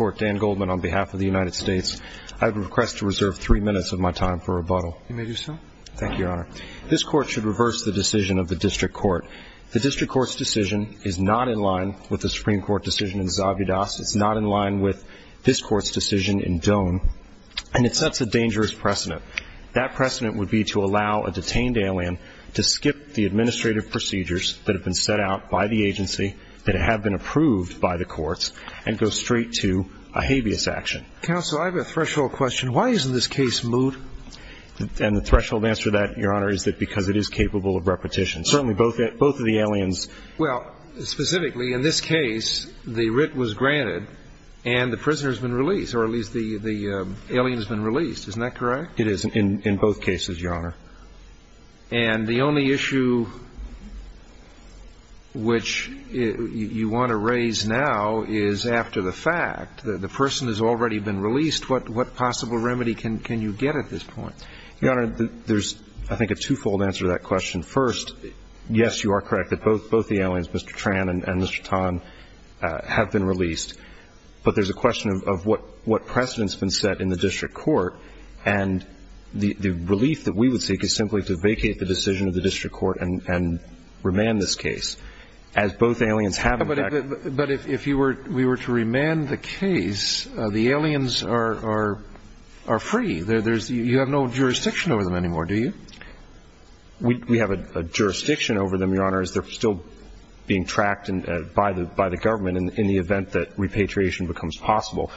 on behalf of the United States, I would request to reserve three minutes of my time for rebuttal. You may do so. Thank you, Your Honor. This Court should reverse the decision of the District Court. The District Court's decision is not in line with the Supreme Court decision in Zabudas. It's not in line with this Court's decision in Doan. And it sets a dangerous precedent. That precedent would be to allow a detained alien to skip the administrative procedures that have been set out by the agency, that have been approved by the courts, and go straight to a habeas action. Counsel, I have a threshold question. Why isn't this case moot? And the threshold answer to that, Your Honor, is that because it is capable of repetition. Certainly both of the aliens – Well, specifically in this case, the writ was granted and the prisoner has been released, or at least the alien has been released. Isn't that correct? It is in both cases, Your Honor. And the only issue which you want to raise now is after the fact. The person has already been released. What possible remedy can you get at this point? Your Honor, there's, I think, a twofold answer to that question. First, yes, you are correct that both the aliens, Mr. Tran and Mr. Tan, have been released. But there's a question of what precedent has been set in the District Court. And the relief that we would seek is simply to vacate the decision of the District Court and remand this case. As both aliens have, in fact – But if we were to remand the case, the aliens are free. You have no jurisdiction over them anymore, do you? We have a jurisdiction over them, Your Honor, as they're still being tracked by the government in the event that repatriation becomes possible.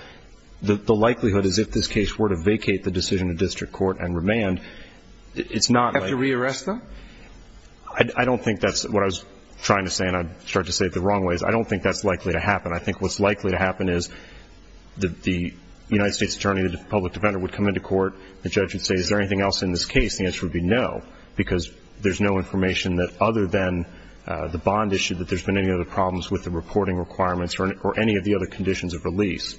The likelihood is if this case were to vacate the decision of District Court and remand, it's not like – Do you have to re-arrest them? I don't think that's what I was trying to say, and I started to say it the wrong way. I don't think that's likely to happen. I think what's likely to happen is the United States attorney, the public defender, would come into court. The judge would say, is there anything else in this case? The answer would be no, because there's no information that other than the bond issue that there's been any other problems with the reporting requirements or any of the other conditions of release.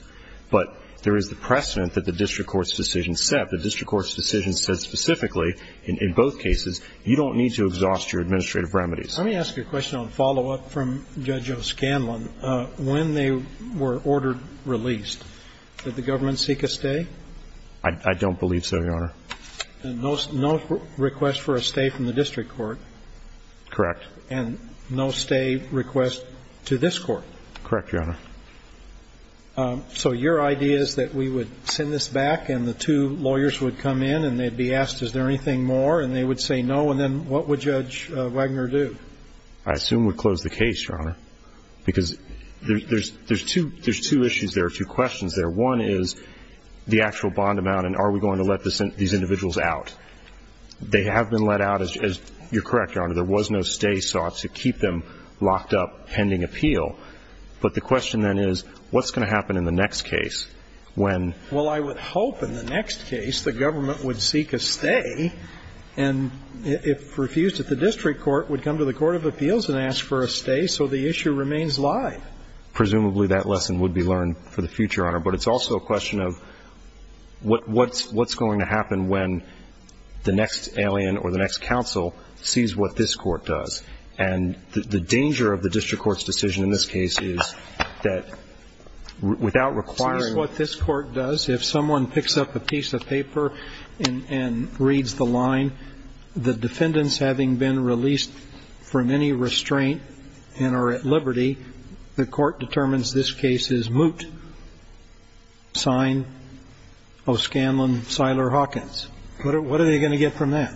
But there is the precedent that the District Court's decision set. The District Court's decision said specifically, in both cases, you don't need to exhaust your administrative remedies. Let me ask you a question on follow-up from Judge O'Scanlan. When they were ordered released, did the government seek a stay? I don't believe so, Your Honor. And no request for a stay from the District Court? Correct. And no stay request to this Court? Correct, Your Honor. So your idea is that we would send this back, and the two lawyers would come in, and they'd be asked, is there anything more? And they would say no. And then what would Judge Wagner do? I assume we'd close the case, Your Honor, because there's two issues there, two questions there. One is the actual bond amount, and are we going to let these individuals out? They have been let out. You're correct, Your Honor. There was no stay sought to keep them locked up pending appeal. But the question then is, what's going to happen in the next case when ---- Well, I would hope in the next case the government would seek a stay and, if refused at the District Court, would come to the Court of Appeals and ask for a stay so the issue remains live. Presumably that lesson would be learned for the future, Your Honor. But it's also a question of what's going to happen when the next alien or the next counsel sees what this Court does. And the danger of the District Court's decision in this case is that without requiring ---- Sees what this Court does. If someone picks up a piece of paper and reads the line, the defendants having been released from any restraint and are at liberty, the Court determines this case is moot. Signed, O. Scanlon, Siler, Hawkins. What are they going to get from that?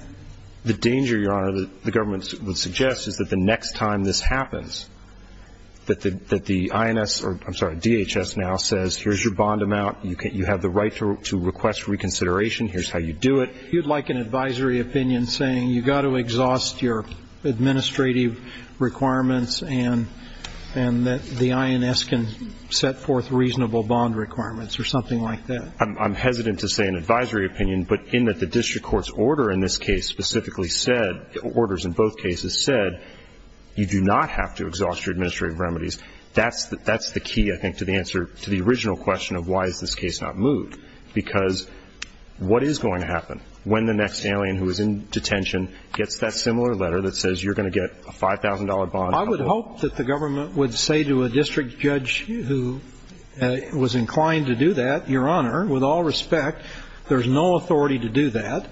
The danger, Your Honor, that the government would suggest is that the next time this happens, that the INS or, I'm sorry, DHS now says, here's your bond amount. You have the right to request reconsideration. Here's how you do it. You'd like an advisory opinion saying you've got to exhaust your administrative requirements and that the INS can set forth reasonable bond requirements or something like that. I'm hesitant to say an advisory opinion, but in that the District Court's order in this case specifically said, orders in both cases said, you do not have to exhaust your administrative remedies. That's the key, I think, to the answer to the original question of why is this case not moot. Because what is going to happen when the next alien who is in detention gets that similar letter that says you're going to get a $5,000 bond? I would hope that the government would say to a district judge who was inclined to do that, Your Honor, with all respect, there's no authority to do that.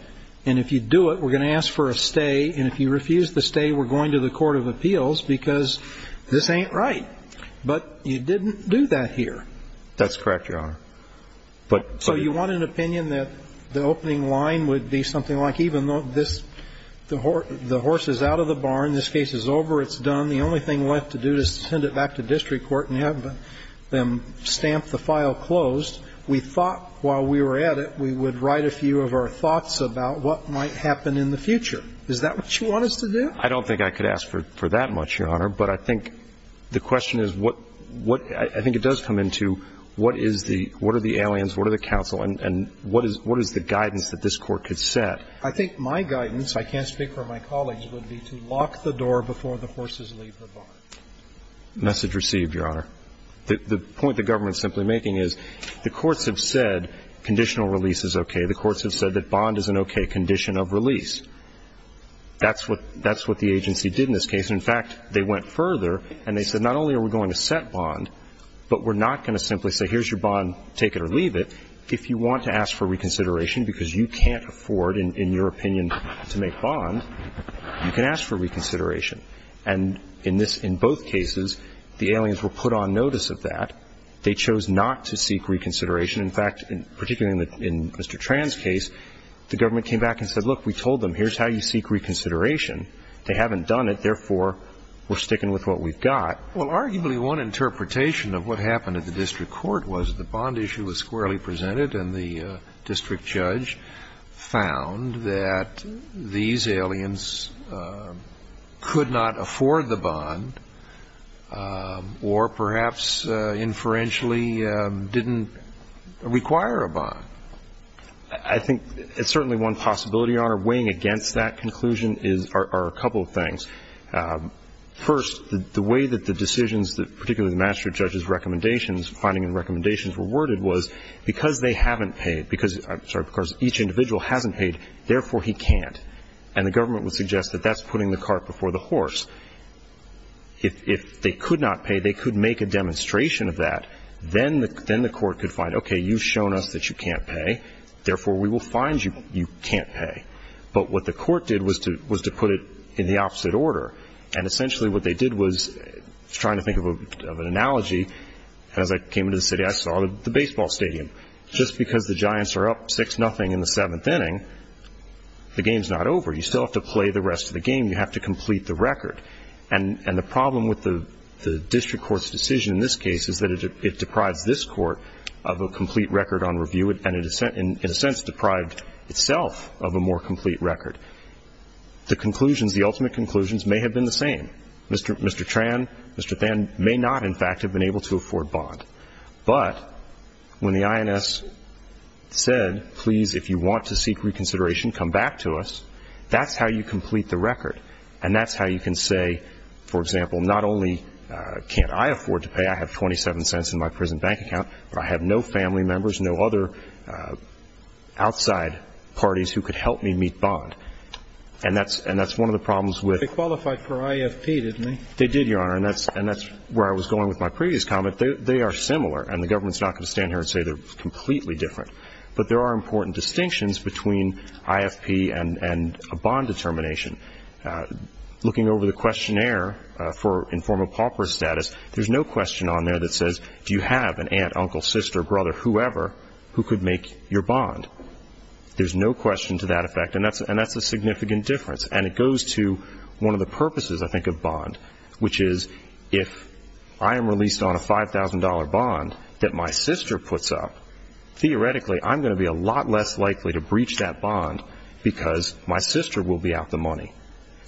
And if you do it, we're going to ask for a stay. And if you refuse the stay, we're going to the Court of Appeals because this ain't right. But you didn't do that here. That's correct, Your Honor. So you want an opinion that the opening line would be something like even though this the horse is out of the barn, this case is over, it's done, the only thing left to do is send it back to district court and have them stamp the file closed. We thought while we were at it we would write a few of our thoughts about what might happen in the future. Is that what you want us to do? I don't think I could ask for that much, Your Honor. But I think the question is what – I think it does come into what is the – what are the aliens, what are the counsel, and what is the guidance that this Court could set? I think my guidance, I can't speak for my colleagues, would be to lock the door before the horses leave the barn. Message received, Your Honor. The point the government is simply making is the courts have said conditional release is okay. The courts have said that bond is an okay condition of release. That's what the agency did in this case. In fact, they went further and they said not only are we going to set bond, but we're not going to simply say here's your bond, take it or leave it. If you want to ask for reconsideration because you can't afford, in your opinion, to make bond, you can ask for reconsideration. And in this – in both cases, the aliens were put on notice of that. They chose not to seek reconsideration. In fact, particularly in Mr. Tran's case, the government came back and said, look, we told them here's how you seek reconsideration. They haven't done it. Therefore, we're sticking with what we've got. Well, arguably one interpretation of what happened at the district court was the bond issue was squarely presented and the district judge found that these aliens could not afford the bond I think it's certainly one possibility, Your Honor. Weighing against that conclusion are a couple of things. First, the way that the decisions, particularly the magistrate judge's recommendations, finding the recommendations were worded was because they haven't paid, because each individual hasn't paid, therefore he can't. And the government would suggest that that's putting the cart before the horse. If they could not pay, they could make a demonstration of that. Then the court could find, okay, you've shown us that you can't pay, therefore we will find you can't pay. But what the court did was to put it in the opposite order. And essentially what they did was trying to think of an analogy. As I came into the city, I saw the baseball stadium. Just because the Giants are up 6-0 in the seventh inning, the game's not over. You still have to play the rest of the game. You have to complete the record. And the problem with the district court's decision in this case is that it deprives this court of a complete record on review and, in a sense, deprived itself of a more complete record. The conclusions, the ultimate conclusions, may have been the same. Mr. Tran, Mr. Than, may not, in fact, have been able to afford bond. But when the INS said, please, if you want to seek reconsideration, come back to us, that's how you complete the record. And that's how you can say, for example, not only can't I afford to pay, I have $0.27 in my prison bank account, but I have no family members, no other outside parties who could help me meet bond. And that's one of the problems with- They qualified for IFP, didn't they? They did, Your Honor, and that's where I was going with my previous comment. They are similar, and the government's not going to stand here and say they're completely different. But there are important distinctions between IFP and a bond determination. Looking over the questionnaire for informal pauper status, there's no question on there that says, do you have an aunt, uncle, sister, brother, whoever, who could make your bond? There's no question to that effect, and that's a significant difference. And it goes to one of the purposes, I think, of bond, which is if I am released on a $5,000 bond that my sister puts up, theoretically, I'm going to be a lot less likely to breach that bond because my sister will be out the money.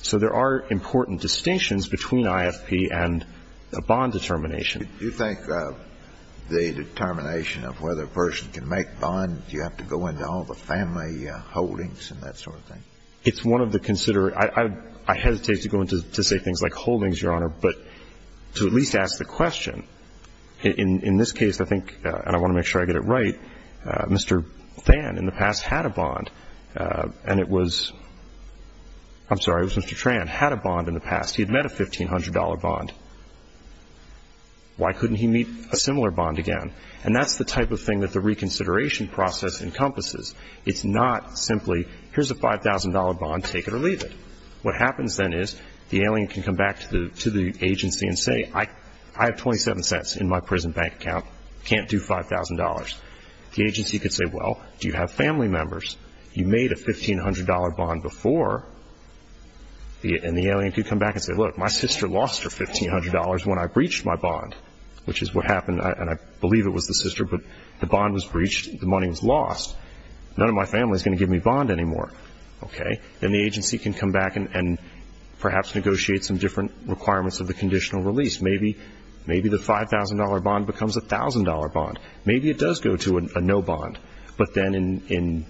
So there are important distinctions between IFP and a bond determination. Do you think the determination of whether a person can make bond, do you have to go into all the family holdings and that sort of thing? It's one of the considerate- I hesitate to go into to say things like holdings, Your Honor, but to at least ask the question. In this case, I think, and I want to make sure I get it right, Mr. Thann in the past had a bond, and it was- I'm sorry, it was Mr. Tran, had a bond in the past. He had met a $1,500 bond. Why couldn't he meet a similar bond again? And that's the type of thing that the reconsideration process encompasses. It's not simply, here's a $5,000 bond, take it or leave it. What happens then is the alien can come back to the agency and say, I have $0.27 in my prison bank account, can't do $5,000. The agency could say, well, do you have family members? You made a $1,500 bond before, and the alien could come back and say, look, my sister lost her $1,500 when I breached my bond, which is what happened, and I believe it was the sister, but the bond was breached, the money was lost. None of my family is going to give me a bond anymore. Okay. Then the agency can come back and perhaps negotiate some different requirements of the conditional release. Maybe the $5,000 bond becomes a $1,000 bond. Maybe it does go to a no bond, but then in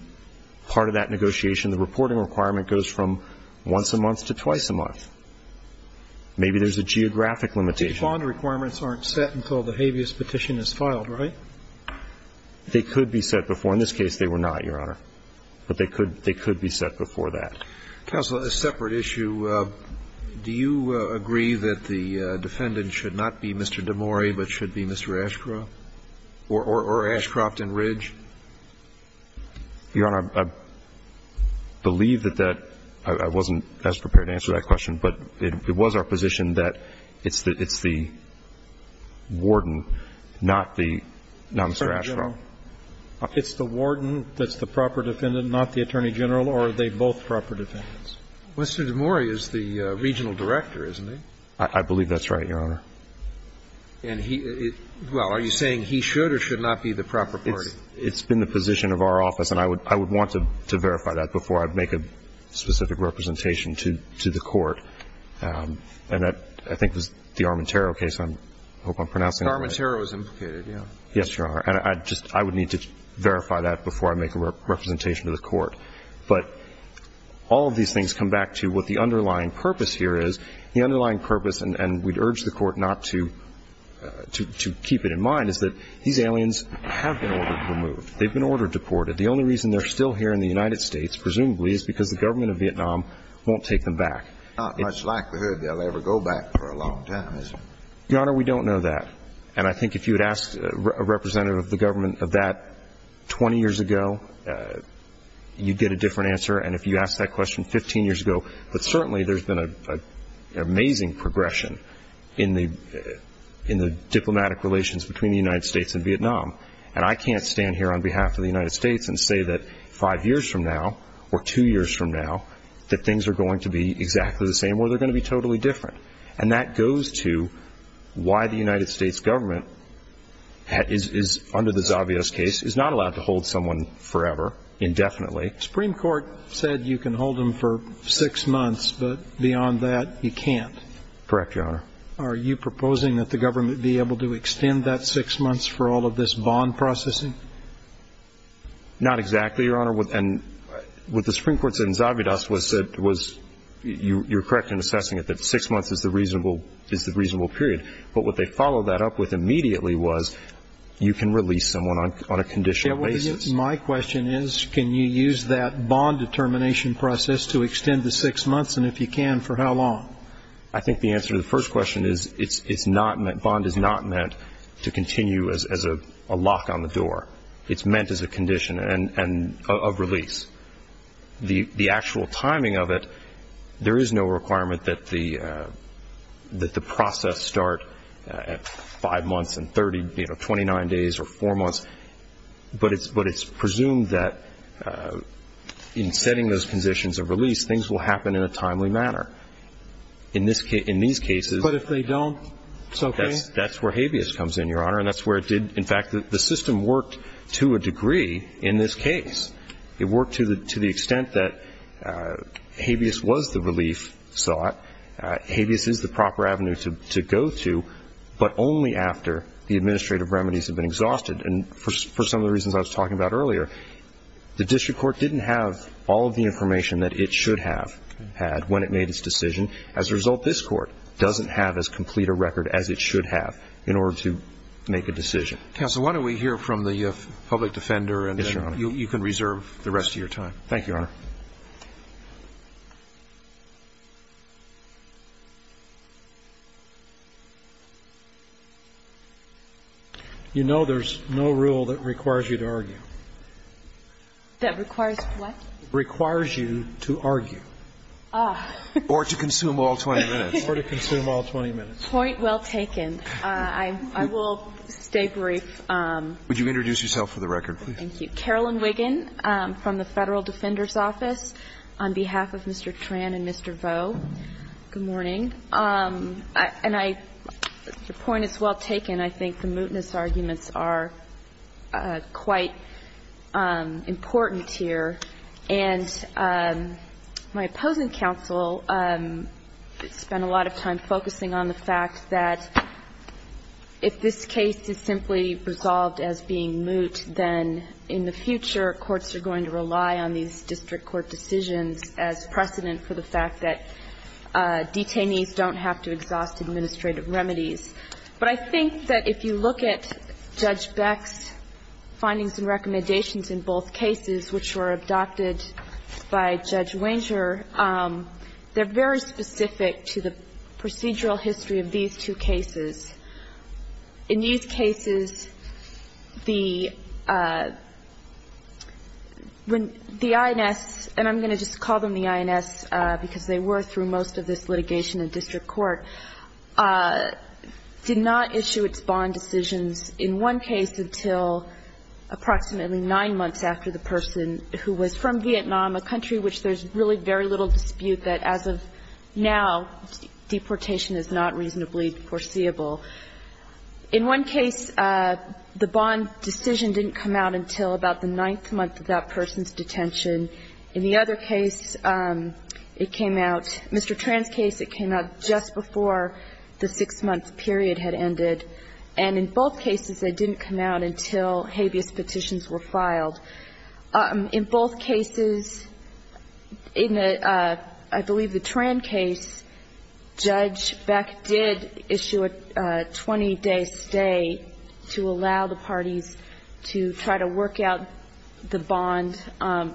part of that negotiation, the reporting requirement goes from once a month to twice a month. Maybe there's a geographic limitation. These bond requirements aren't set until the habeas petition is filed, right? They could be set before. In this case, they were not, Your Honor. But they could be set before that. Counsel, a separate issue. Do you agree that the defendant should not be Mr. DeMori, but should be Mr. Ashcroft or Ashcroft and Ridge? Your Honor, I believe that that – I wasn't as prepared to answer that question, but it was our position that it's the warden, not the – not Mr. Ashcroft. It's the warden that's the proper defendant, not the attorney general, or are they both proper defendants? Mr. DeMori is the regional director, isn't he? I believe that's right, Your Honor. And he – well, are you saying he should or should not be the proper party? It's been the position of our office, and I would want to verify that before I make a specific representation to the Court. And I think it was the Armintero case. I hope I'm pronouncing it right. The Armintero is implicated, yes. Yes, Your Honor. And I just – I would need to verify that before I make a representation to the Court. But all of these things come back to what the underlying purpose here is. The underlying purpose – and we'd urge the Court not to keep it in mind – is that these aliens have been ordered removed. They've been ordered deported. The only reason they're still here in the United States, presumably, is because the government of Vietnam won't take them back. Not much likelihood they'll ever go back for a long time, is it? Your Honor, we don't know that. And I think if you had asked a representative of the government of that 20 years ago, you'd get a different answer. And if you asked that question 15 years ago – but certainly there's been an amazing progression in the diplomatic relations between the United States and Vietnam. And I can't stand here on behalf of the United States and say that five years from now or two years from now that things are going to be exactly the same or they're going to be totally different. And that goes to why the United States government, under the Zavidas case, is not allowed to hold someone forever indefinitely. The Supreme Court said you can hold them for six months, but beyond that you can't. Correct, Your Honor. Are you proposing that the government be able to extend that six months for all of this bond processing? Not exactly, Your Honor. And what the Supreme Court said in Zavidas was – you're correct in assessing it – that six months is the reasonable period. But what they followed that up with immediately was you can release someone on a conditional basis. My question is can you use that bond determination process to extend the six months, and if you can, for how long? I think the answer to the first question is it's not meant – bond is not meant to continue as a lock on the door. It's meant as a condition of release. The actual timing of it, there is no requirement that the process start at five months and 29 days or four months, but it's presumed that in setting those conditions of release, things will happen in a timely manner. In these cases – But if they don't, it's okay? That's where habeas comes in, Your Honor, and that's where it did – in fact, the system worked to a degree in this case. It worked to the extent that habeas was the relief sought. Habeas is the proper avenue to go to, but only after the administrative remedies have been exhausted. And for some of the reasons I was talking about earlier, the district court didn't have all of the information that it should have had when it made its decision. As a result, this court doesn't have as complete a record as it should have in order to make a decision. Thank you. Counsel, why don't we hear from the public defender and then you can reserve the rest of your time. Thank you, Your Honor. You know there's no rule that requires you to argue. That requires what? Requires you to argue. Ah. Or to consume all 20 minutes. Or to consume all 20 minutes. Point well taken. I will stay brief. Would you introduce yourself for the record, please? Thank you. Carolyn Wiggin from the Federal Defender's Office on behalf of Mr. Tran and Mr. Vo. Good morning. And I – the point is well taken. I think the mootness arguments are quite important here. And my opposing counsel spent a lot of time focusing on the fact that if this case is simply resolved as being moot, then in the future courts are going to rely on these district court decisions as precedent for the fact that detainees don't have to exhaust administrative remedies. But I think that if you look at Judge Beck's findings and recommendations in both cases, which were adopted by Judge Wenger, they're very specific to the procedural history of these two cases. In these cases, the – when the INS, and I'm going to just call them the INS because they were through most of this litigation in district court, did not issue its bond decisions in one case until approximately nine months after the person who was from Vietnam, a country which there's really very little dispute that as of now, deportation is not reasonably foreseeable. In one case, the bond decision didn't come out until about the ninth month of that person's detention. In the other case, it came out – Mr. Tran's case, it came out just before the six-month period had ended. And in both cases, they didn't come out until habeas petitions were filed. In both cases, in the – I believe the Tran case, Judge Beck did issue a 20-day stay to allow the parties to try to work out the bond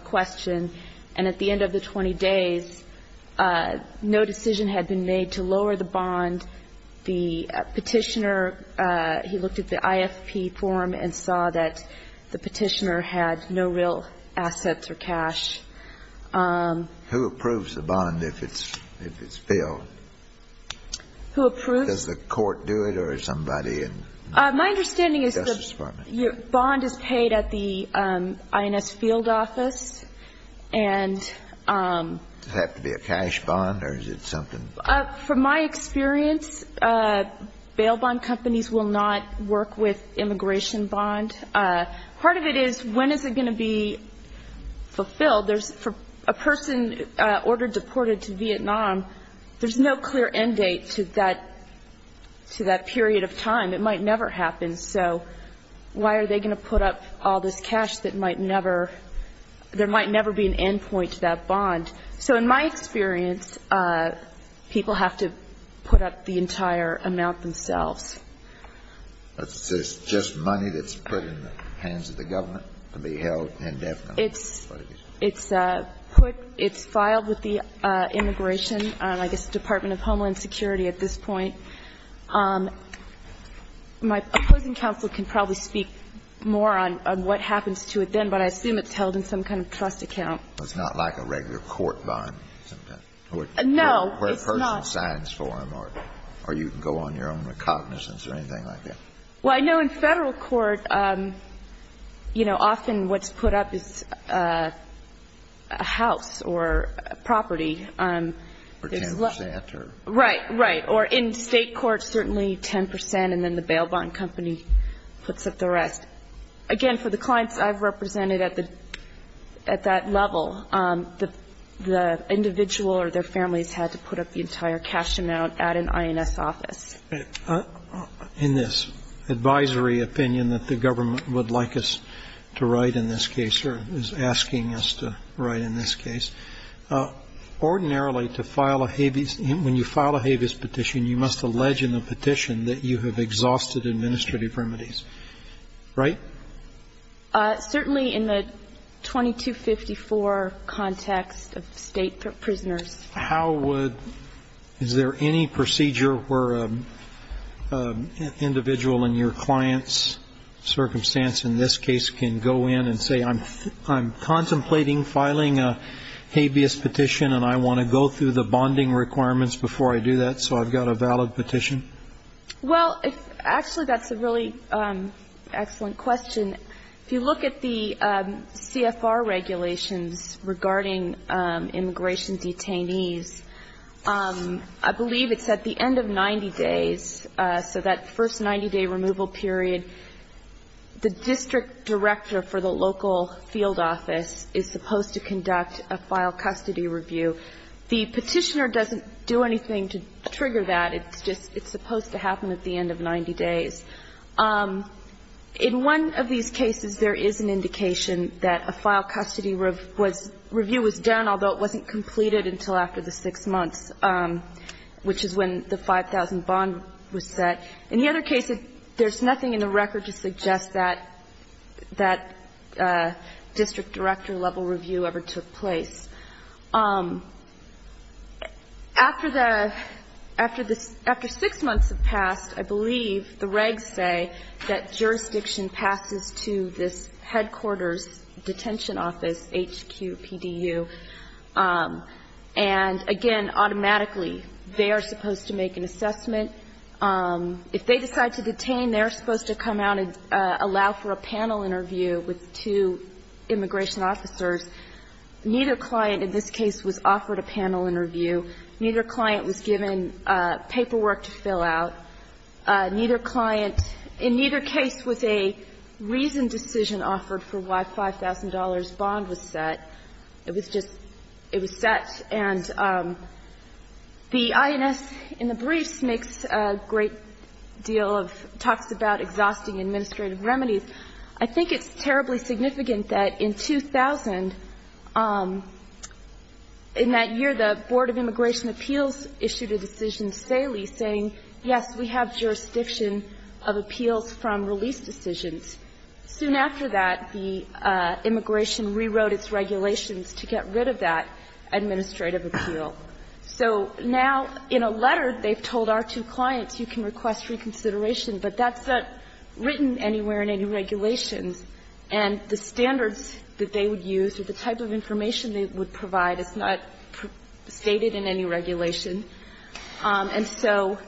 question. And at the end of the 20 days, no decision had been made to lower the bond. The Petitioner, he looked at the IFP form and saw that the Petitioner had no real assets or cash. Who approves the bond if it's filled? Who approves? Does the court do it or is somebody in the Justice Department? My understanding is the bond is paid at the INS field office, and – Does it have to be a cash bond or is it something – From my experience, bail bond companies will not work with immigration bond. Part of it is when is it going to be fulfilled? There's – for a person ordered deported to Vietnam, there's no clear end date to that – to that period of time. It might never happen. So why are they going to put up all this cash that might never – there might never be an end point to that bond? So in my experience, people have to put up the entire amount themselves. It's just money that's put in the hands of the government to be held indefinitely? It's put – it's filed with the immigration – I guess the Department of Homeland Security at this point. My opposing counsel can probably speak more on what happens to it then, but I assume it's held in some kind of trust account. It's not like a regular court bond? No, it's not. Where a person signs for them or you can go on your own recognizance or anything like that? Well, I know in Federal court, you know, often what's put up is a house or a property. Or 10 percent or – Right, right. Or in State court, certainly 10 percent and then the bail bond company puts up the rest. Again, for the clients I've represented at the – at that level, the individual or their families had to put up the entire cash amount at an INS office. In this advisory opinion that the government would like us to write in this case or is asking us to write in this case, ordinarily to file a habeas – when you file a habeas petition, you must allege in the petition that you have exhausted administrative remedies, right? Certainly in the 2254 context of State prisoners. How would – is there any procedure where an individual in your client's circumstance in this case can go in and say I'm contemplating filing a habeas petition and I want to go through the bonding requirements before I do that so I've got a valid petition? Well, actually, that's a really excellent question. If you look at the CFR regulations regarding immigration detainees, I believe it's at the end of 90 days, so that first 90-day removal period, the district director for the local field office is supposed to conduct a file custody review. The petitioner doesn't do anything to trigger that. It's just – it's supposed to happen at the end of 90 days. In one of these cases, there is an indication that a file custody review was done, although it wasn't completed until after the six months, which is when the 5,000 bond was set. In the other case, there's nothing in the record to suggest that that district director-level review ever took place. After the – after six months have passed, I believe the regs say that jurisdiction passes to this headquarters detention office, HQPDU. And, again, automatically, they are supposed to make an assessment. If they decide to detain, they're supposed to come out and allow for a panel interview with two immigration officers. Neither client in this case was offered a panel interview. Neither client was given paperwork to fill out. Neither client in neither case was a reasoned decision offered for why a $5,000 bond was set. It was just – it was set. And the INS in the briefs makes a great deal of – talks about exhausting administrative remedies. I think it's terribly significant that in 2000, in that year, the Board of Immigration Appeals issued a decision stately saying, yes, we have jurisdiction of appeals from release decisions. Soon after that, the immigration rewrote its regulations to get rid of that administrative appeal. So now, in a letter, they've told our two clients, you can request reconsideration, but that's not written anywhere in any regulations. And the standards that they would use or the type of information they would provide is not stated in any regulation. And so,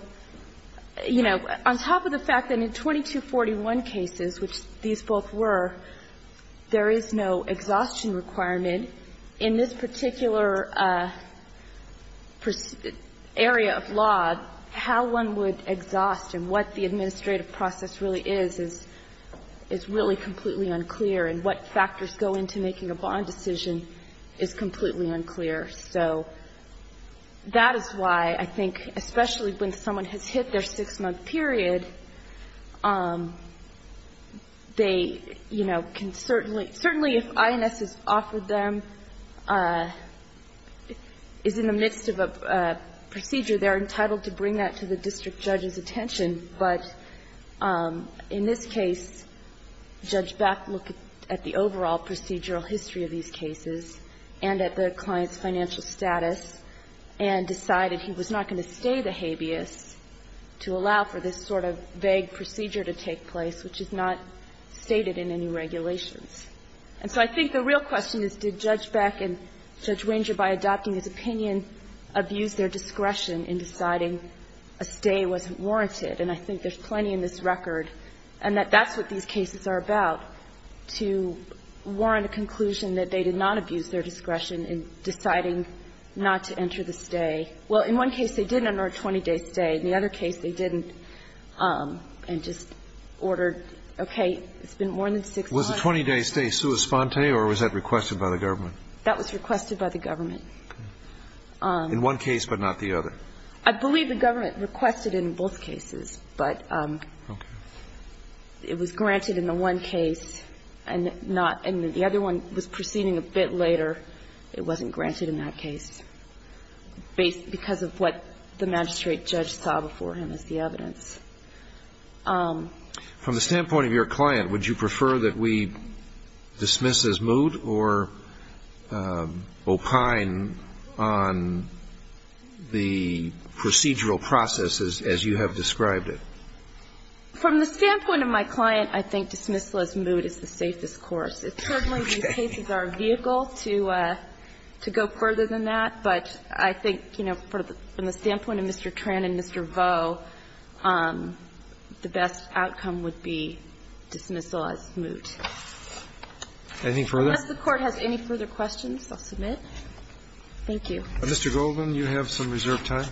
you know, on top of the fact that in 2241 cases, which these both were, there is no exhaustion requirement. In this particular area of law, how one would exhaust and what the administrative process really is, is really completely unclear. And what factors go into making a bond decision is completely unclear. So that is why I think, especially when someone has hit their six-month period, they, you know, can certainly – certainly if INS has offered them – is in the midst of a procedure, they're entitled to bring that to the district judge's attention. But in this case, Judge Beck looked at the overall procedural history of these cases and at the client's financial status and decided he was not going to stay the habeas to allow for this sort of vague procedure to take place, which is not stated in any regulations. And so I think the real question is, did Judge Beck and Judge Ranger, by adopting this opinion, abuse their discretion in deciding a stay wasn't warranted? And I think there's plenty in this record. And that that's what these cases are about, to warrant a conclusion that they did not abuse their discretion in deciding not to enter the stay. Well, in one case, they did enter a 20-day stay. In the other case, they didn't and just ordered, okay, it's been more than six months. Alito Was the 20-day stay sua sponte, or was that requested by the government? In one case but not the other. I believe the government requested it in both cases, but it was granted in the one case and not the other one was proceeding a bit later. It wasn't granted in that case because of what the magistrate judge saw before him as the evidence. From the standpoint of your client, would you prefer that we dismiss his mood or opine on the procedural processes as you have described it? From the standpoint of my client, I think dismissal as mood is the safest course. It's certainly the case as our vehicle to go further than that, but I think, you know, from the standpoint of Mr. Tran and Mr. Vo, the best outcome would be dismissal as mood. Anything further? Unless the Court has any further questions, I'll submit. Thank you. Mr. Goldman, you have some reserved time.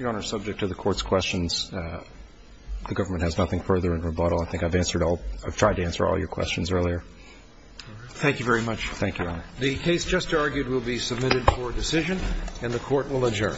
Your Honor, subject to the Court's questions, the government has nothing further in rebuttal. I think I've answered all of your questions earlier. Thank you very much. Thank you, Your Honor. The case just argued will be submitted for decision, and the Court will adjourn. Thank you.